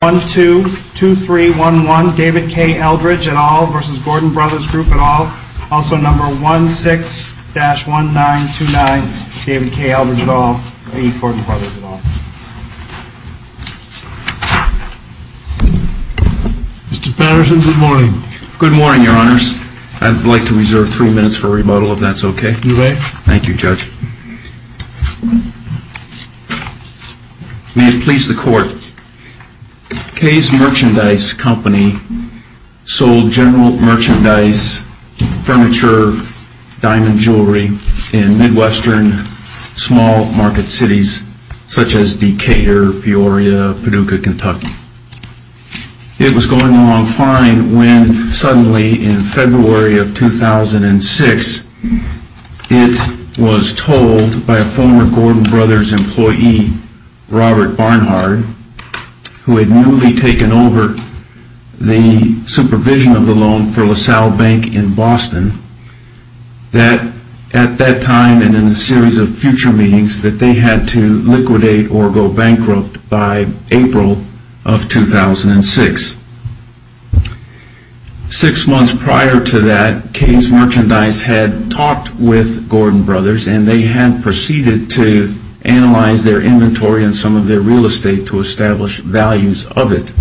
Mr. Patterson, good morning. Good morning, your honors. I'd like to reserve three minutes for rebuttal if that's okay. You may. Thank you, Judge. May it please the court, Kay's Merchandise Company sold general merchandise, furniture, diamond jewelry in midwestern small market cities such as Decatur, Peoria, Paducah, Kentucky. It was going along fine when suddenly in February of 2006 it was told by a former Gordon Brothers employee, Robert Barnhard, who had newly taken over the supervision of the loan for LaSalle Bank in Boston, that at that time and in a series of future meetings that they had to liquidate or go bankrupt by April of 2006. Six months prior to that, Kay's Merchandise had talked with Gordon Brothers and they had proceeded to analyze their inventory and some of their real estate to establish values of it.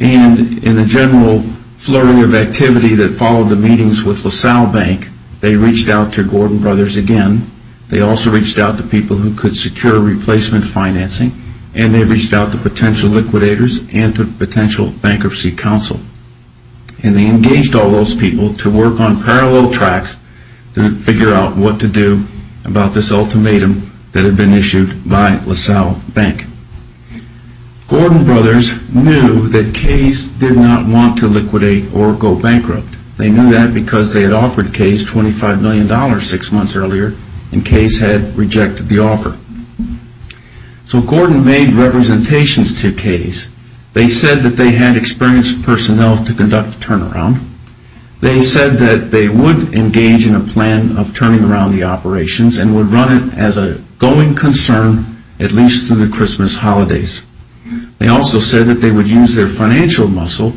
And in a general flurry of activity that followed the meetings with LaSalle Bank, they reached out to Gordon Brothers again. They also reached out to people who could secure replacement financing and they reached out to potential liquidators and to potential bankruptcy counsel. And they engaged all those people to work on parallel tracks to figure out what to do about this ultimatum that had been issued by LaSalle Bank. Gordon Brothers knew that Kay's did not want to liquidate or go bankrupt. They knew that because they had rejected the offer. So Gordon made representations to Kay's. They said that they had experienced personnel to conduct a turnaround. They said that they would engage in a plan of turning around the operations and would run it as a going concern at least through the Christmas holidays. They also said that they would use their financial muscle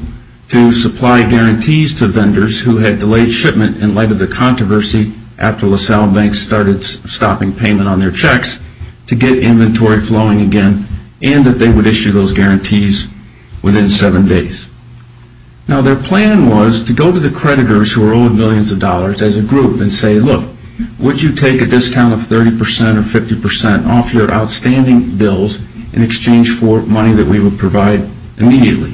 to supply guarantees to vendors who had delayed shipment in light of the controversy after LaSalle Bank started stopping payment on their checks to get inventory flowing again and that they would issue those guarantees within seven days. Now their plan was to go to the creditors who were owed millions of dollars as a group and say, look, would you take a discount of 30% or 50% off your outstanding bills in exchange for money that we would provide immediately?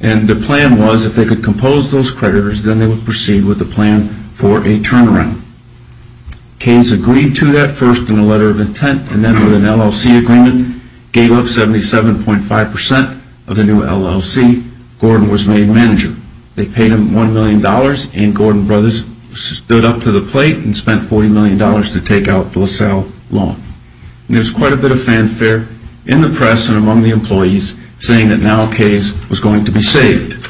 And the plan was if they could compose those creditors, then they would proceed with a plan for a turnaround. Kay's agreed to that first in a letter of intent and then with an LLC agreement gave up 77.5% of the new LLC. Gordon was made manager. They paid him $1 million and Gordon Brothers stood up to the plate and spent $40 million to take out the LaSalle loan. There was quite a bit of fanfare in the press and among the employees saying that now Kay's was going to be saved.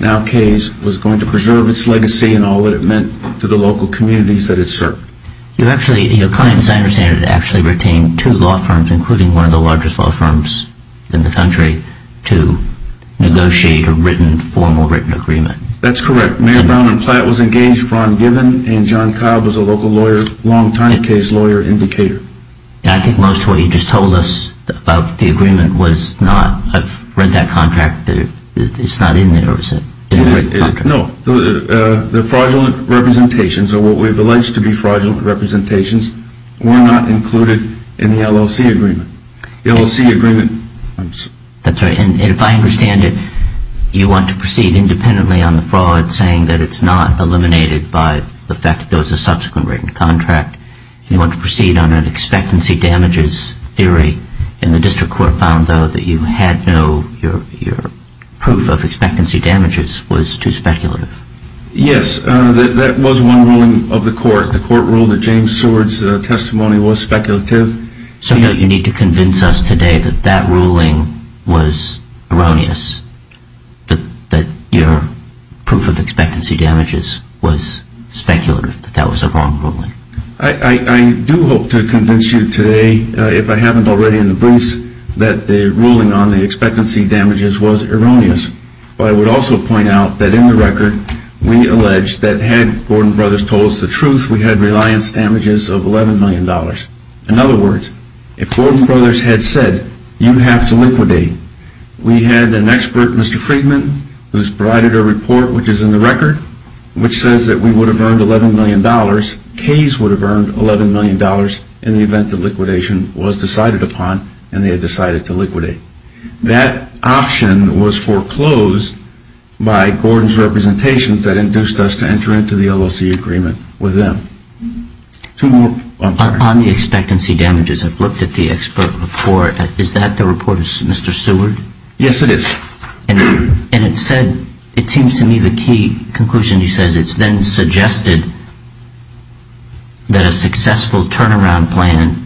Now Kay's was going to preserve its legacy and all that it meant to the local communities that it served. You actually, as I understand it, actually retained two law firms, including one of the largest law firms in the country, to negotiate a written, formal written agreement. That's correct. Mayor Brown and Platt was engaged Ron Gibbon and John Cobb was a local lawyer, longtime case lawyer, indicator. I think most of what you just told us about the agreement was not, I've read that contract, it's not in there, is it? No. The fraudulent representations or what we've alleged to be fraudulent representations were not included in the LLC agreement. The LLC agreement... That's right. And if I understand it, you want to proceed independently on the fraud saying that it's not eliminated by the fact that there was a subsequent written contract. You want to proceed on an expectancy damages theory and the district court found though that you had no, your proof of expectancy damages was too speculative. Yes, that was one ruling of the court. The court ruled that James Seward's testimony was speculative. So don't you need to convince us today that that ruling was erroneous, that your proof of expectancy damages was speculative, that that was a wrong ruling? I do hope to convince you today, if I haven't already in the booths, that the ruling on the expectancy damages was erroneous. But I would also point out that in the record, we allege that had Gordon Brothers told us the truth, we had reliance damages of $11 million. In other words, if Gordon Brothers had said, you have to liquidate, we had an expert, Mr. Friedman, who's provided a report which is in the record, which says that we would have earned $11 million, Kays would have earned $11 million in the event that liquidation was decided upon and they had decided to liquidate. That option was foreclosed by Gordon's representations that induced us to enter into the LLC agreement with them. Two more. On the expectancy damages, I've looked at the expert report. Is that the report of Mr. Seward? Yes, it is. And it said, it seems to me the key conclusion he says, it's been suggested that a successful turnaround plan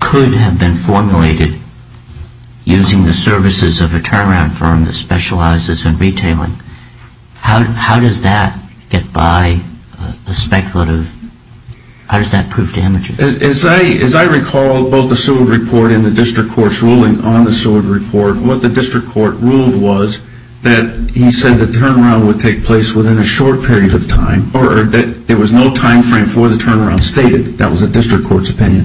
could have been formulated using the services of a turnaround firm that specializes in retailing. How does that get by a speculative, how does that prove damages? As I recall both the Seward report and the district court's ruling on the Seward report, what the district court ruled was that he would take place within a short period of time, or that there was no time frame for the turnaround stated, that was the district court's opinion.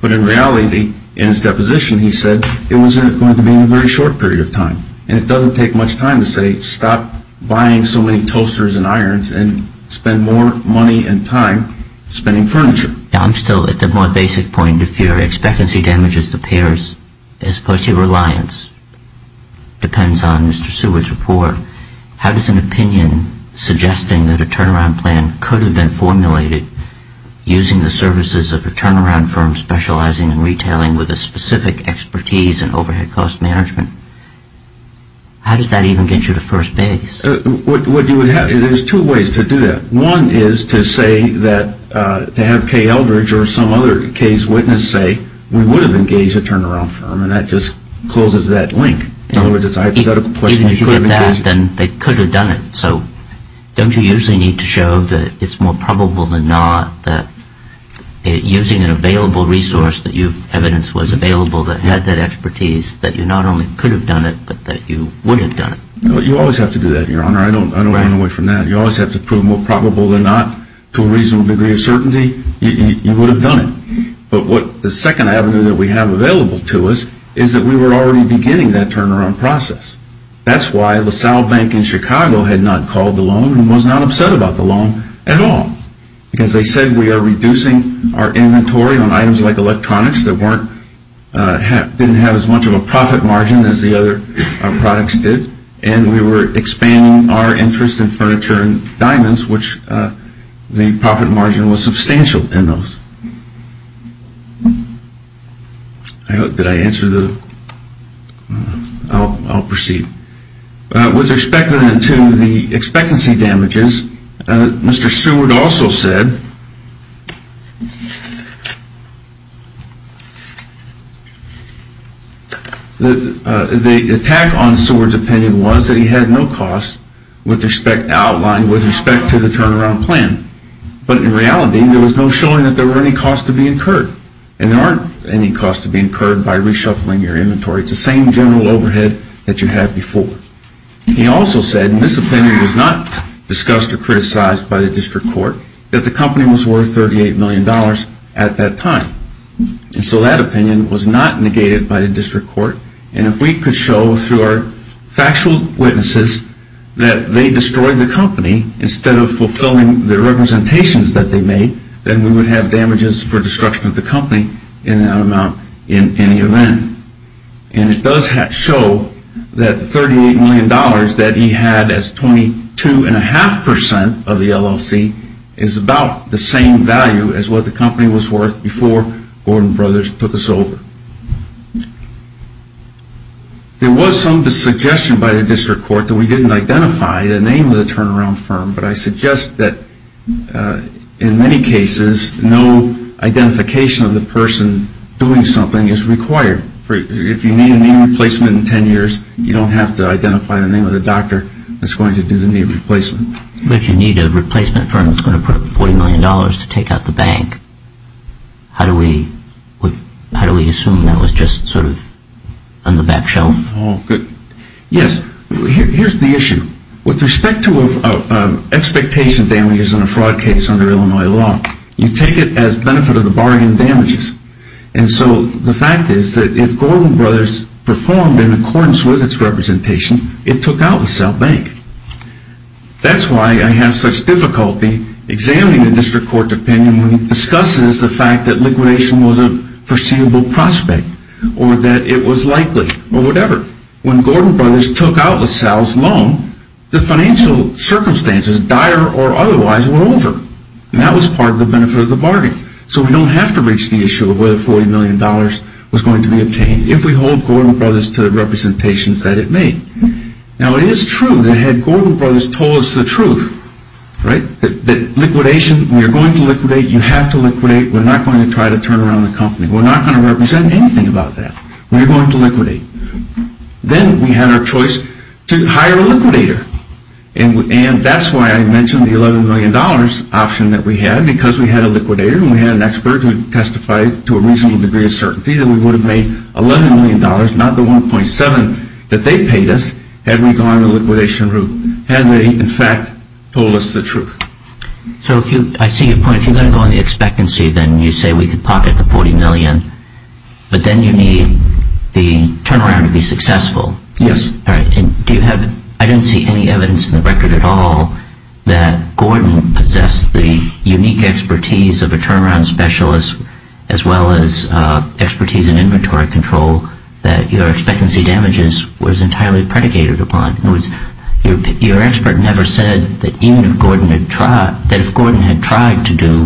But in reality, in his deposition he said it was going to be in a very short period of time. And it doesn't take much time to say stop buying so many toasters and irons and spend more money and time spending furniture. I'm still at the more basic point of fear, expectancy damages to payers as opposed to clients. Depends on Mr. Seward's report. How does an opinion suggesting that a turnaround plan could have been formulated using the services of a turnaround firm specializing in retailing with a specific expertise in overhead cost management, how does that even get you to first base? There's two ways to do that. One is to say that, to have Kay Eldridge or some other Kay's witness say, we would have engaged a turnaround firm. And that just closes that link. In other words, it's a hypothetical question if you haven't If you could have done that, then they could have done it. So don't you usually need to show that it's more probable than not that using an available resource that you've evidenced was available that had that expertise, that you not only could have done it, but that you would have done it? You always have to do that, Your Honor. I don't want to run away from that. You always have to prove more probable than not to a reasonable degree of certainty that you would have done it. But the second avenue that we have available to us is that we were already beginning that turnaround process. That's why LaSalle Bank in Chicago had not called the loan and was not upset about the loan at all. Because they said we are reducing our inventory on items like electronics that didn't have as much of a profit margin as the other products did. And we were expanding our interest in furniture and diamonds, which the profit margin was substantial in those. With respect then to the expectancy damages, Mr. Seward also said that the attack on Seward's opinion was that with respect to the turnaround plan. But in reality, there was no showing that there were any costs to be incurred. And there aren't any costs to be incurred by reshuffling your inventory. It's the same general overhead that you had before. He also said, and this opinion was not discussed or criticized by the district court, that the company was worth $38 million at that time. And so that opinion was not negated by the district court. And if we could show through our factual witnesses that they destroyed the company instead of fulfilling the representations that they made, then we would have damages for destruction of the company in that amount in any event. And it does show that the $38 million that he had as 22.5% of the LLC is about the same value as what the company was worth before Gordon Brothers took us over. There was some suggestion by the district court that we didn't identify the name of the turnaround firm. But I suggest that in many cases, no identification of the person doing something is required. If you need a name replacement in 10 years, you don't have to identify the name of the doctor that's going to do the name replacement. But you need a replacement firm that's going to put up $40 million to take out the bank. How do we assume that was just sort of on the back shelf? Yes. Here's the issue. With respect to expectation damages in a fraud case under Illinois law, you take it as benefit of the bargain damages. And so the fact is that if Gordon Brothers performed in accordance with its representation, it took out the South Bank. That's why I have such difficulty examining the district court's opinion when it discusses the fact that liquidation was a foreseeable prospect or that it was likely or whatever. When Gordon Brothers took out LaSalle's loan, the financial circumstances, dire or otherwise, were over. And that was part of the benefit of the bargain. So we don't have to reach the issue of whether $40 million was going to be obtained if we hold Gordon Brothers to the representations that it made. Now it is true that had Gordon Brothers told us the truth, that liquidation, you're going to liquidate, you have to liquidate, we're not going to try to turn around the company. We're not going to represent anything about that. We're going to liquidate. Then we had our choice to hire a liquidator. And that's why I mentioned the $11 million option that we had because we had a liquidator and we had an expert who testified to a reasonable degree of certainty that we would have made $11 million, not the $1.7 million that they paid us, had we gone the liquidation route, had they, in fact, told us the truth. So if you, I see your point. If you're going to go on the expectancy, then you say we could pocket the $40 million, but then you need the turnaround to be successful. Yes. All right. Do you have, I didn't see any evidence in the record at all that Gordon possessed the unique expertise of a turnaround specialist as well as expertise in inventory control that your expectancy damages was entirely predicated upon. In other words, your expert never said that even if Gordon had tried, that if Gordon had tried to do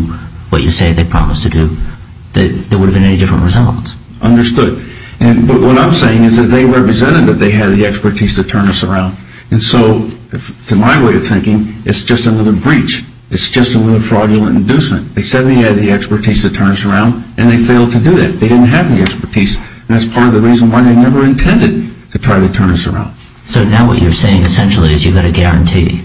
what you say they promised to do, that there would have been any different results. Understood. But what I'm saying is that they represented that they had the expertise to inducement. They said they had the expertise to turn us around, and they failed to do that. They didn't have the expertise, and that's part of the reason why they never intended to try to turn us around. So now what you're saying essentially is you've got a guarantee.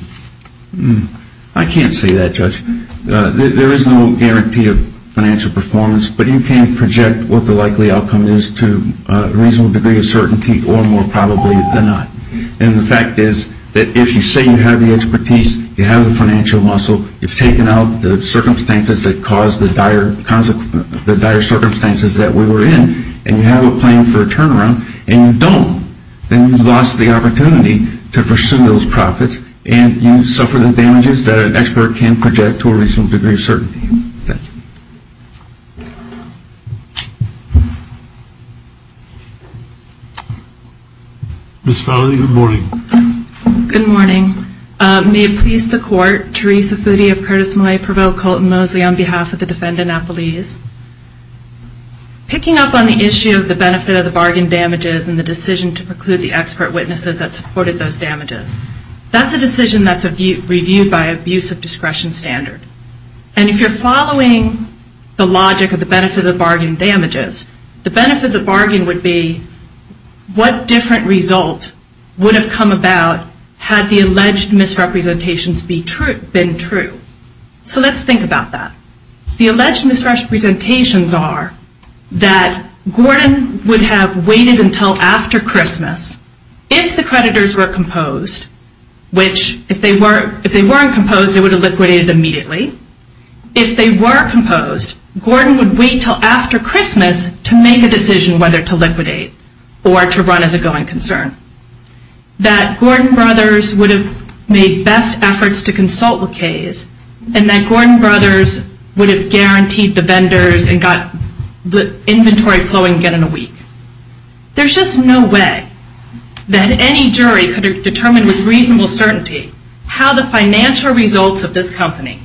I can't say that, Judge. There is no guarantee of financial performance, but you can project what the likely outcome is to a reasonable degree of certainty or more probably than not. And the fact is that if you say you have the expertise, you have the financial muscle, you've taken out the circumstances that caused the dire circumstances that we were in, and you have a plan for a turnaround, and you don't, then you've lost the opportunity to pursue those profits, and you suffer the damages that an expert can project to a reasonable degree of certainty. Thank you. Ms. Fowley, good morning. Ms. Fowley, good morning. May it please the Court, Theresa Foody of Curtis-Millay Provo-Colton-Moseley on behalf of the Defendant Appellees. Picking up on the issue of the benefit of the bargain damages and the decision to preclude the expert witnesses that supported those damages, that's a decision that's reviewed by abuse of discretion standard. And if you're following the logic of the benefit of the had the alleged misrepresentations been true. So let's think about that. The alleged misrepresentations are that Gordon would have waited until after Christmas if the creditors were composed, which if they weren't composed, they would have liquidated immediately. If they were composed, Gordon would wait until after Christmas to make a decision whether to liquidate or to run as a going concern. That Gordon Brothers would have made best efforts to consult the case, and that Gordon Brothers would have guaranteed the vendors and got the inventory flowing again in a week. There's just no way that any jury could have determined with reasonable certainty how the financial results of this company,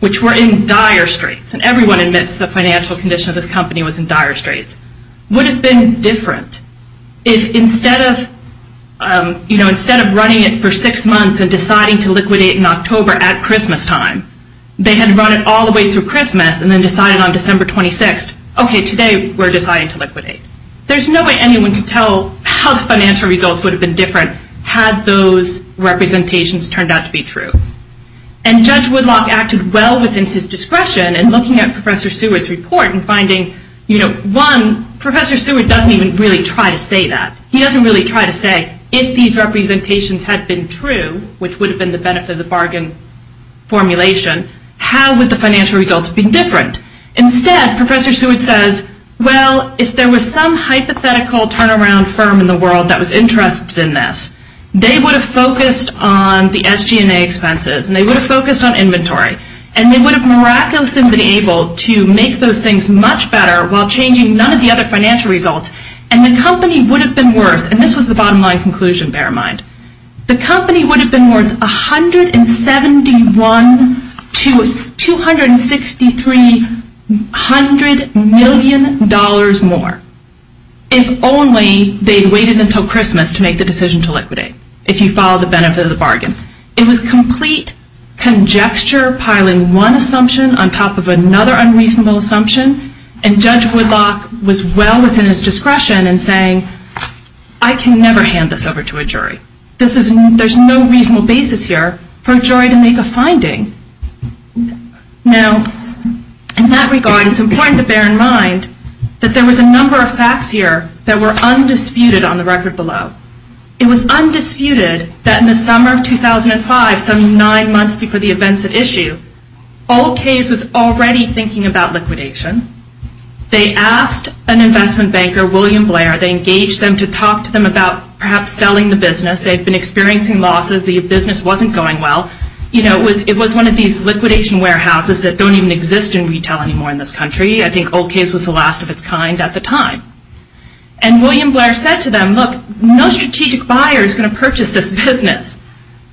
which were in dire straits, and everyone admits the financial condition of this company was in dire straits, would have been different if instead of running it for six months and deciding to liquidate in October at Christmas time, they had run it all the way through Christmas and then decided on December 26, okay, today we're deciding to liquidate. There's no way anyone could tell how the financial results would have been different had those representations turned out to be true. And Judge Woodlock acted well within his discretion in looking at Professor Seward's report and finding, one, Professor Seward doesn't even really try to say that. He doesn't really try to say if these representations had been true, which would have been the benefit of the bargain formulation, how would the financial results have been different? Instead, Professor Seward says, well, if there was some hypothetical turnaround firm in the world that was interested in this, they would have focused on the SG&A expenses, and they would have focused on inventory, and they would have miraculously been able to make those things much better while changing none of the other financial results, and the company would have been worth, and this was the bottom line conclusion, bear in mind, the company would have been worth $171 to $263 hundred million more if only they had waited until Christmas to make the decision to liquidate, if you followed the benefit of the bargain. It was complete conjecture piling one assumption on top of another unreasonable assumption, and Judge Woodlock was well within his discretion in saying, I can never hand this over to a jury. There's no reasonable basis here for a jury to make a finding. Now, in that regard, it's important to bear in mind that there was a number of facts here that were undisputed on the record below. It was undisputed that in the summer of 2005, some nine months before the events at issue, Old Case was already thinking about liquidation. They asked an investment banker, William Blair, they engaged them to talk to them about perhaps selling the business. They had been experiencing losses. The business wasn't going well. It was one of these liquidation warehouses that don't even exist in retail anymore in this country. I think Old Case was the last of those strategic buyers going to purchase this business.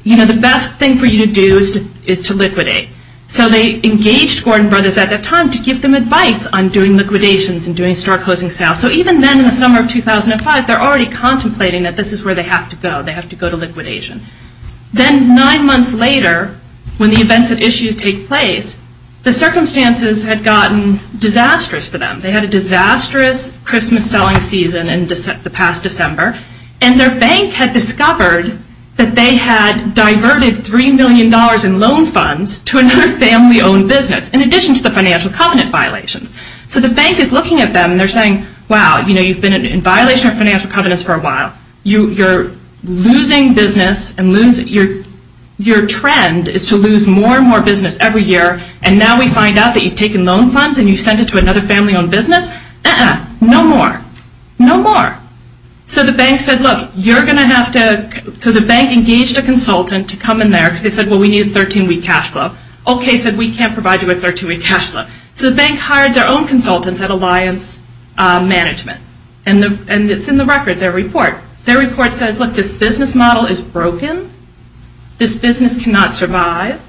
You know, the best thing for you to do is to liquidate. So they engaged Gordon Brothers at that time to give them advice on doing liquidations and doing store closing sales. So even then in the summer of 2005, they're already contemplating that this is where they have to go. They have to go to liquidation. Then nine months later, when the events at issue take place, the circumstances had gotten disastrous for them. They had a disastrous Christmas selling season in the past December and their bank had discovered that they had diverted $3 million in loan funds to another family owned business in addition to the financial covenant violations. So the bank is looking at them and they're saying, wow, you've been in violation of financial covenants for a while. You're losing business and your trend is to lose more and more business every year and now we find out that you've taken loan funds and you've sent it to another family owned business. No more. No more. So the bank said, look, you're going to have to, so the bank engaged a consultant to come in there because they said, well, we need a 13-week cash flow. Okay, said we can't provide you with a 13-week cash flow. So the bank hired their own consultants at Alliance Management and it's in the record, their report. Their report says, look, this business model is broken. This business cannot survive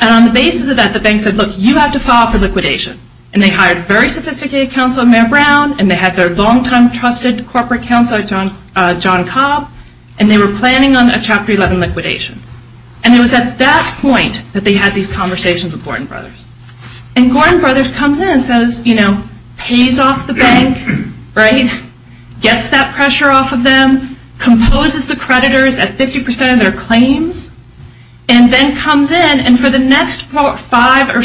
and on the basis of that, the bank said, look, you have to file for liquidation and they hired a very sophisticated counsel, Mayor Brown, and they had their long-time trusted corporate counsel, John Cobb, and they were planning on a Chapter 11 liquidation. And it was at that point that they had these conversations with Gordon Brothers. And Gordon Brothers comes in and says, you know, pays off the bank, right? Gets that pressure off of them, composes the creditors at 50% of their claims, and then comes in and for the next five or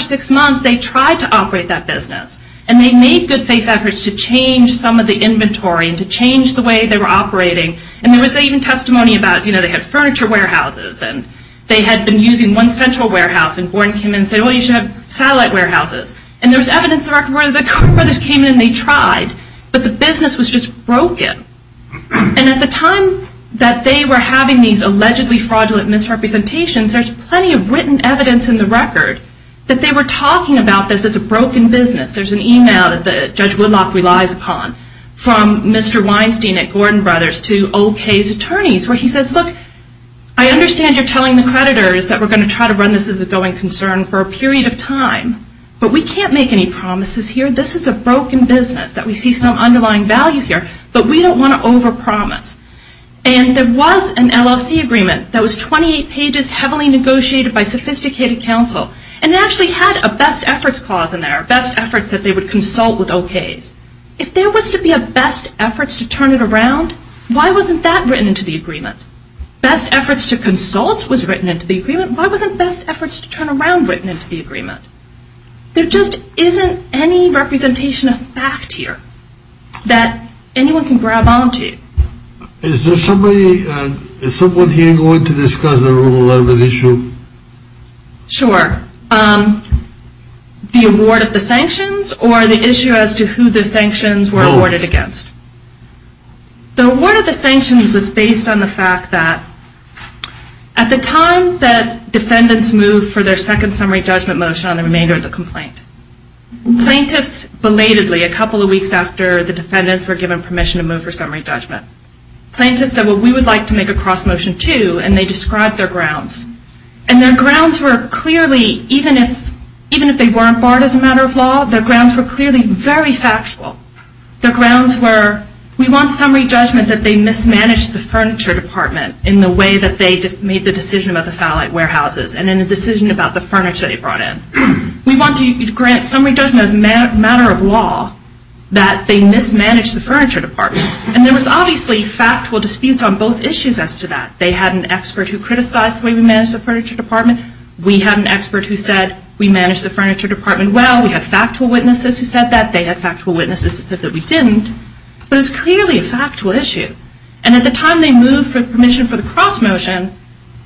six months they tried to operate that business. And they made good faith efforts to change some of the inventory and to change the way they were operating. And there was even testimony about, you know, they had furniture warehouses and they had been using one central warehouse and Gordon came in and said, well, you should have satellite warehouses. And there was evidence in the record that Gordon Brothers came in and they tried, but the business was just broken. And at the time that they were having these allegedly fraudulent misrepresentations, there's plenty of written evidence in the record that they were talking about this as a broken business. There's an email that Judge Woodlock relies upon from Mr. Weinstein at Gordon Brothers to old Kay's attorneys where he says, look, I understand you're telling the creditors that we're going to try to run this as a going concern for a period of time, but we can't make any promises here. This is a broken business that we see some underlying value here, but we don't want to overpromise. And there was an LLC agreement that was 28 pages, heavily negotiated by sophisticated counsel. And they actually had a best efforts clause in there, best efforts that they would consult with old Kay's. If there was to be a best efforts to turn it around, why wasn't that written into the agreement? Best efforts to consult was written into the agreement. Why wasn't best efforts to turn around written into the agreement? There just isn't any representation of fact here that anyone can grab onto. Is there somebody, is someone here going to discuss the rule of law issue? Sure. The award of the sanctions or the issue as to who the sanctions were awarded against? The award of the sanctions was based on the fact that at the time that defendants moved for their second summary judgment motion on the remainder of the complaint, plaintiffs belatedly a couple of weeks after the defendants were given permission to move for summary judgment. Plaintiffs said, well, we would like to make a cross motion too, and they described their grounds. And their grounds were clearly, even if they weren't barred as a matter of law, their grounds were clearly very factual. Their grounds were, we want summary judgment that they mismanaged the furniture department in the way that they just made the decision about the satellite warehouses and then the decision about the furniture they brought in. We want to grant summary judgment as a matter of law that they mismanaged the furniture department. And there was obviously factual disputes on both issues as to that. They had an expert who criticized the way we managed the furniture department. We had an expert who said we managed the furniture department well. We had factual witnesses who said that. They had factual witnesses who said that we didn't. But it's clearly a factual issue. And at the time they moved for permission for the cross motion,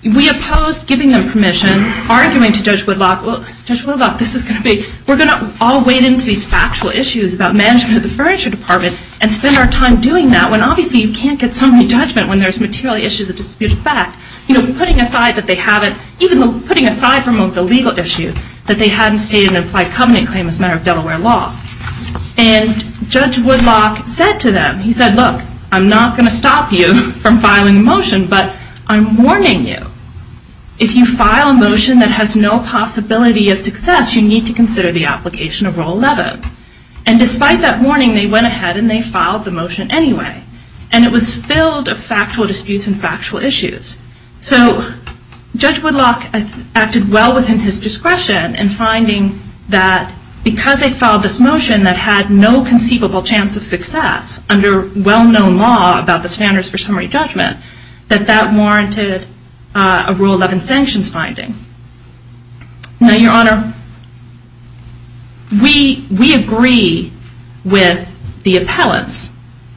we opposed giving them permission, arguing to Judge Woodlock, well, Judge Woodlock, this is going to be, we're going to all wade into these factual issues about management of the furniture department and spend our time doing that, when obviously you can't get summary judgment when there's material issues of disputed fact. You know, putting aside that they haven't, even putting aside from the legal issue, that they hadn't stated an implied covenant claim as a matter of Delaware law. And Judge Woodlock said to them, he said, look, I'm not going to stop you from filing a motion, but I'm warning you. If you file a motion that has no possibility of success, you need to consider the application of Rule 11. And despite that warning, they went ahead and they filed the motion anyway. And it was filled of factual disputes and factual issues. So Judge Woodlock acted well within his discretion in finding that because they filed this motion that had no conceivable chance of success under well-known law about the standards for summary judgment, that that warranted a Rule 11 sanctions finding. Now, Your Honor, we agree with the appellants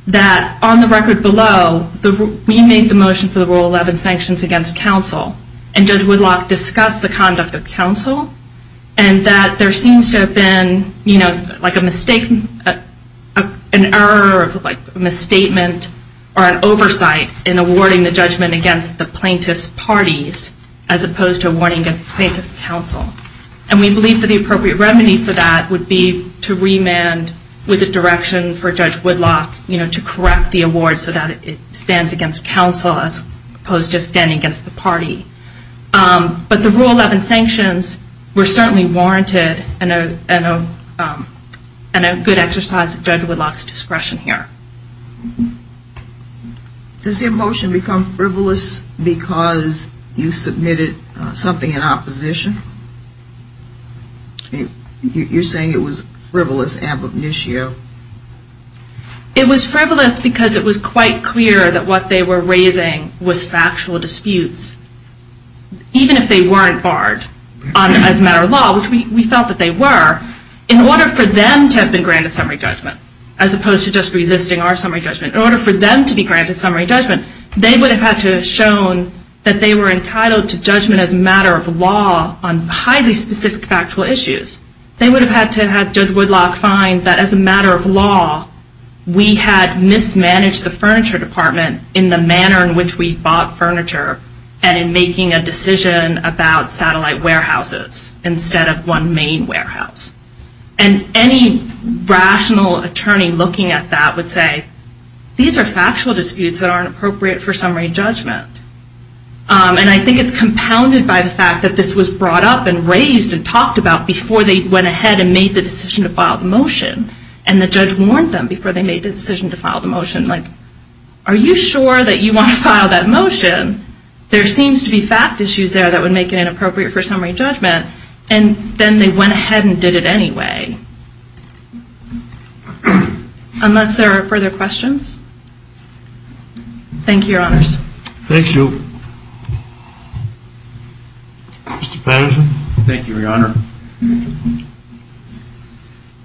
that on the record below, we made the motion for the Rule 11 sanctions against counsel. And Judge Woodlock discussed the conduct of counsel and that there seems to have been, you know, like a mistake, an error, like a misstatement or an oversight in awarding the judgment against the plaintiff's parties as opposed to awarding against the plaintiff's counsel. And we believe that the appropriate remedy for that would be to remand with a direction for Judge Woodlock, you know, to correct the award so that it stands against counsel as opposed to standing against the party. But the Rule 11 sanctions were certainly warranted and a good exercise of Judge Woodlock's discretion here. Does the motion become frivolous because you submitted something in opposition? You're saying it was frivolous ab initio? It was frivolous because it was quite clear that what they were raising was factual disputes, even if they weren't barred as a matter of law, which we felt that they were, in order for them to have been granted summary judgment, as opposed to just resisting our summary judgment, in order for them to be granted summary judgment, they would have had to have shown that they were entitled to judgment as a matter of law on highly specific factual issues. They would have had to have Judge Woodlock find that as a matter of law, we had mismanaged the furniture department in the manner in which we bought furniture and in making a decision about satellite warehouses instead of one main warehouse. And any rational attorney looking at that would say, these are factual disputes that aren't appropriate for summary judgment. And I think it's compounded by the fact that this was brought up and raised and talked about before they went ahead and made the decision to file the motion. And the judge warned them before they made the decision to file the motion, like, are you sure that you want to file that motion? There seems to be fact issues there that would make it inappropriate for summary judgment. And then they went ahead and did it anyway. Unless there are further questions? Thank you, Your Honors. Thank you. Mr. Patterson? Thank you, Your Honor.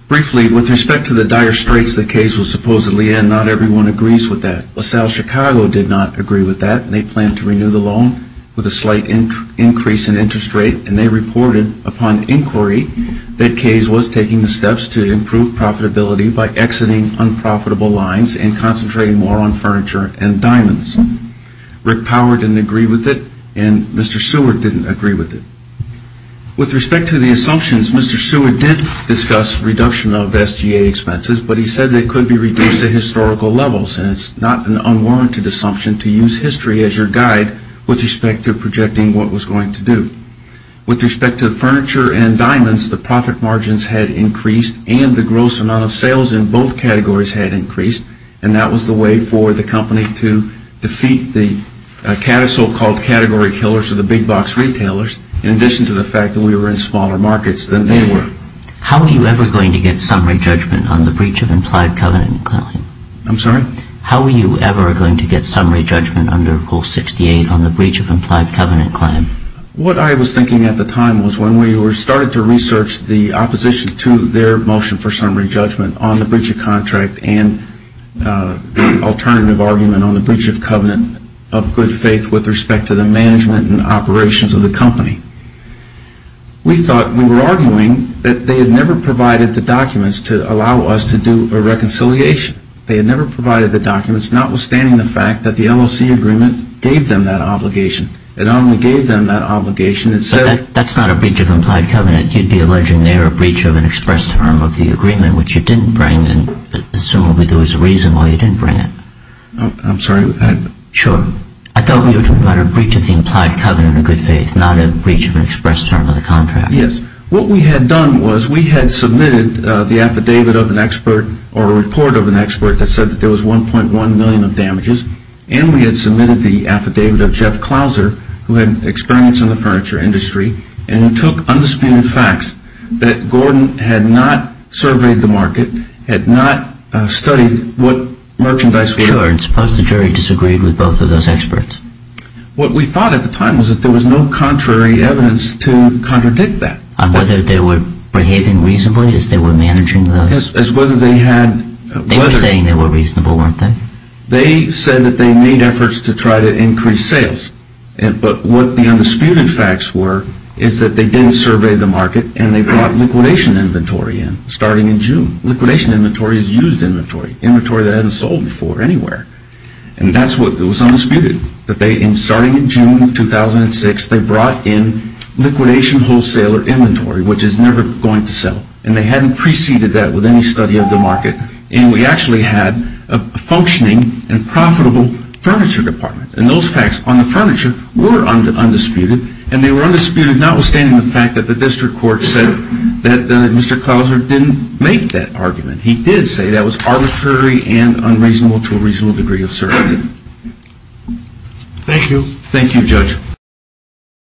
Briefly, with respect to the dire straits the case was supposedly in, not everyone agrees with that. LaSalle Chicago did not agree with that and they planned to renew the loan with a slight increase in interest rate and they reported upon inquiry that CASE was taking the steps to improve profitability by exiting unprofitable lines and concentrating more on furniture and diamonds. Rick Power didn't agree with it and Mr. Seward didn't agree with it. With respect to the assumptions, Mr. Seward did discuss reduction of SGA expenses, but he said they could be reduced to historical levels and it's not an unwarranted assumption to use history as your guide with respect to projecting what was going to do. With respect to the furniture and diamonds, the profit margins had increased and the gross amount of sales in both categories had increased and that was the way for the company to defeat the so-called category killers of the big box retailers in addition to the fact that we were in smaller markets than they were. How are you ever going to get summary judgment on the breach of implied covenant claim? I'm sorry? How are you ever going to get summary judgment under Rule 68 on the breach of implied covenant claim? What I was thinking at the time was when we started to research the opposition to their motion for summary judgment on the breach of contract and the alternative argument on the breach of covenant of good faith with respect to the management and operations of the company, we thought we were arguing that they had never provided the documents to allow us to do a reconciliation. They had never provided the documents, notwithstanding the fact that the LLC agreement gave them that obligation. It only gave them that obligation. But that's not a breach of implied covenant. You'd be alleging there a breach of an express term of the agreement, which you didn't bring and assumably there was a reason why you didn't bring it. I'm sorry? Sure. I thought we were talking about a breach of the implied covenant of good faith, not a breach of an express term of the contract. Yes. What we had done was we had submitted the affidavit of an expert or a report of an expert that said that there was 1.1 million of damages, and we had submitted the affidavit of Jeff Clouser, who had experience in the furniture industry, and took undisputed facts that Gordon had not surveyed the market, had not studied what merchandise was. Sure, and suppose the jury disagreed with both of those experts? What we thought at the time was that there was no contrary evidence to contradict that. On whether they were behaving reasonably as they were managing the... As whether they had... They were saying they were reasonable, weren't they? They said that they made efforts to try to increase sales. But what the undisputed facts were is that they didn't survey the market and they brought liquidation inventory in, starting in June. Liquidation inventory is used inventory, inventory that hasn't sold before anywhere. And that's what was undisputed, that they, starting in June of 2006, they brought in liquidation wholesaler inventory, which is never going to sell. And they hadn't preceded that with any study of the market. And we actually had a functioning and profitable furniture department. And those facts on the furniture were undisputed, and they were undisputed notwithstanding the fact that the district court said that Mr. Clouser didn't make that argument. He did say that was arbitrary and unreasonable to a reasonable degree of certainty. Thank you. Thank you, Judge.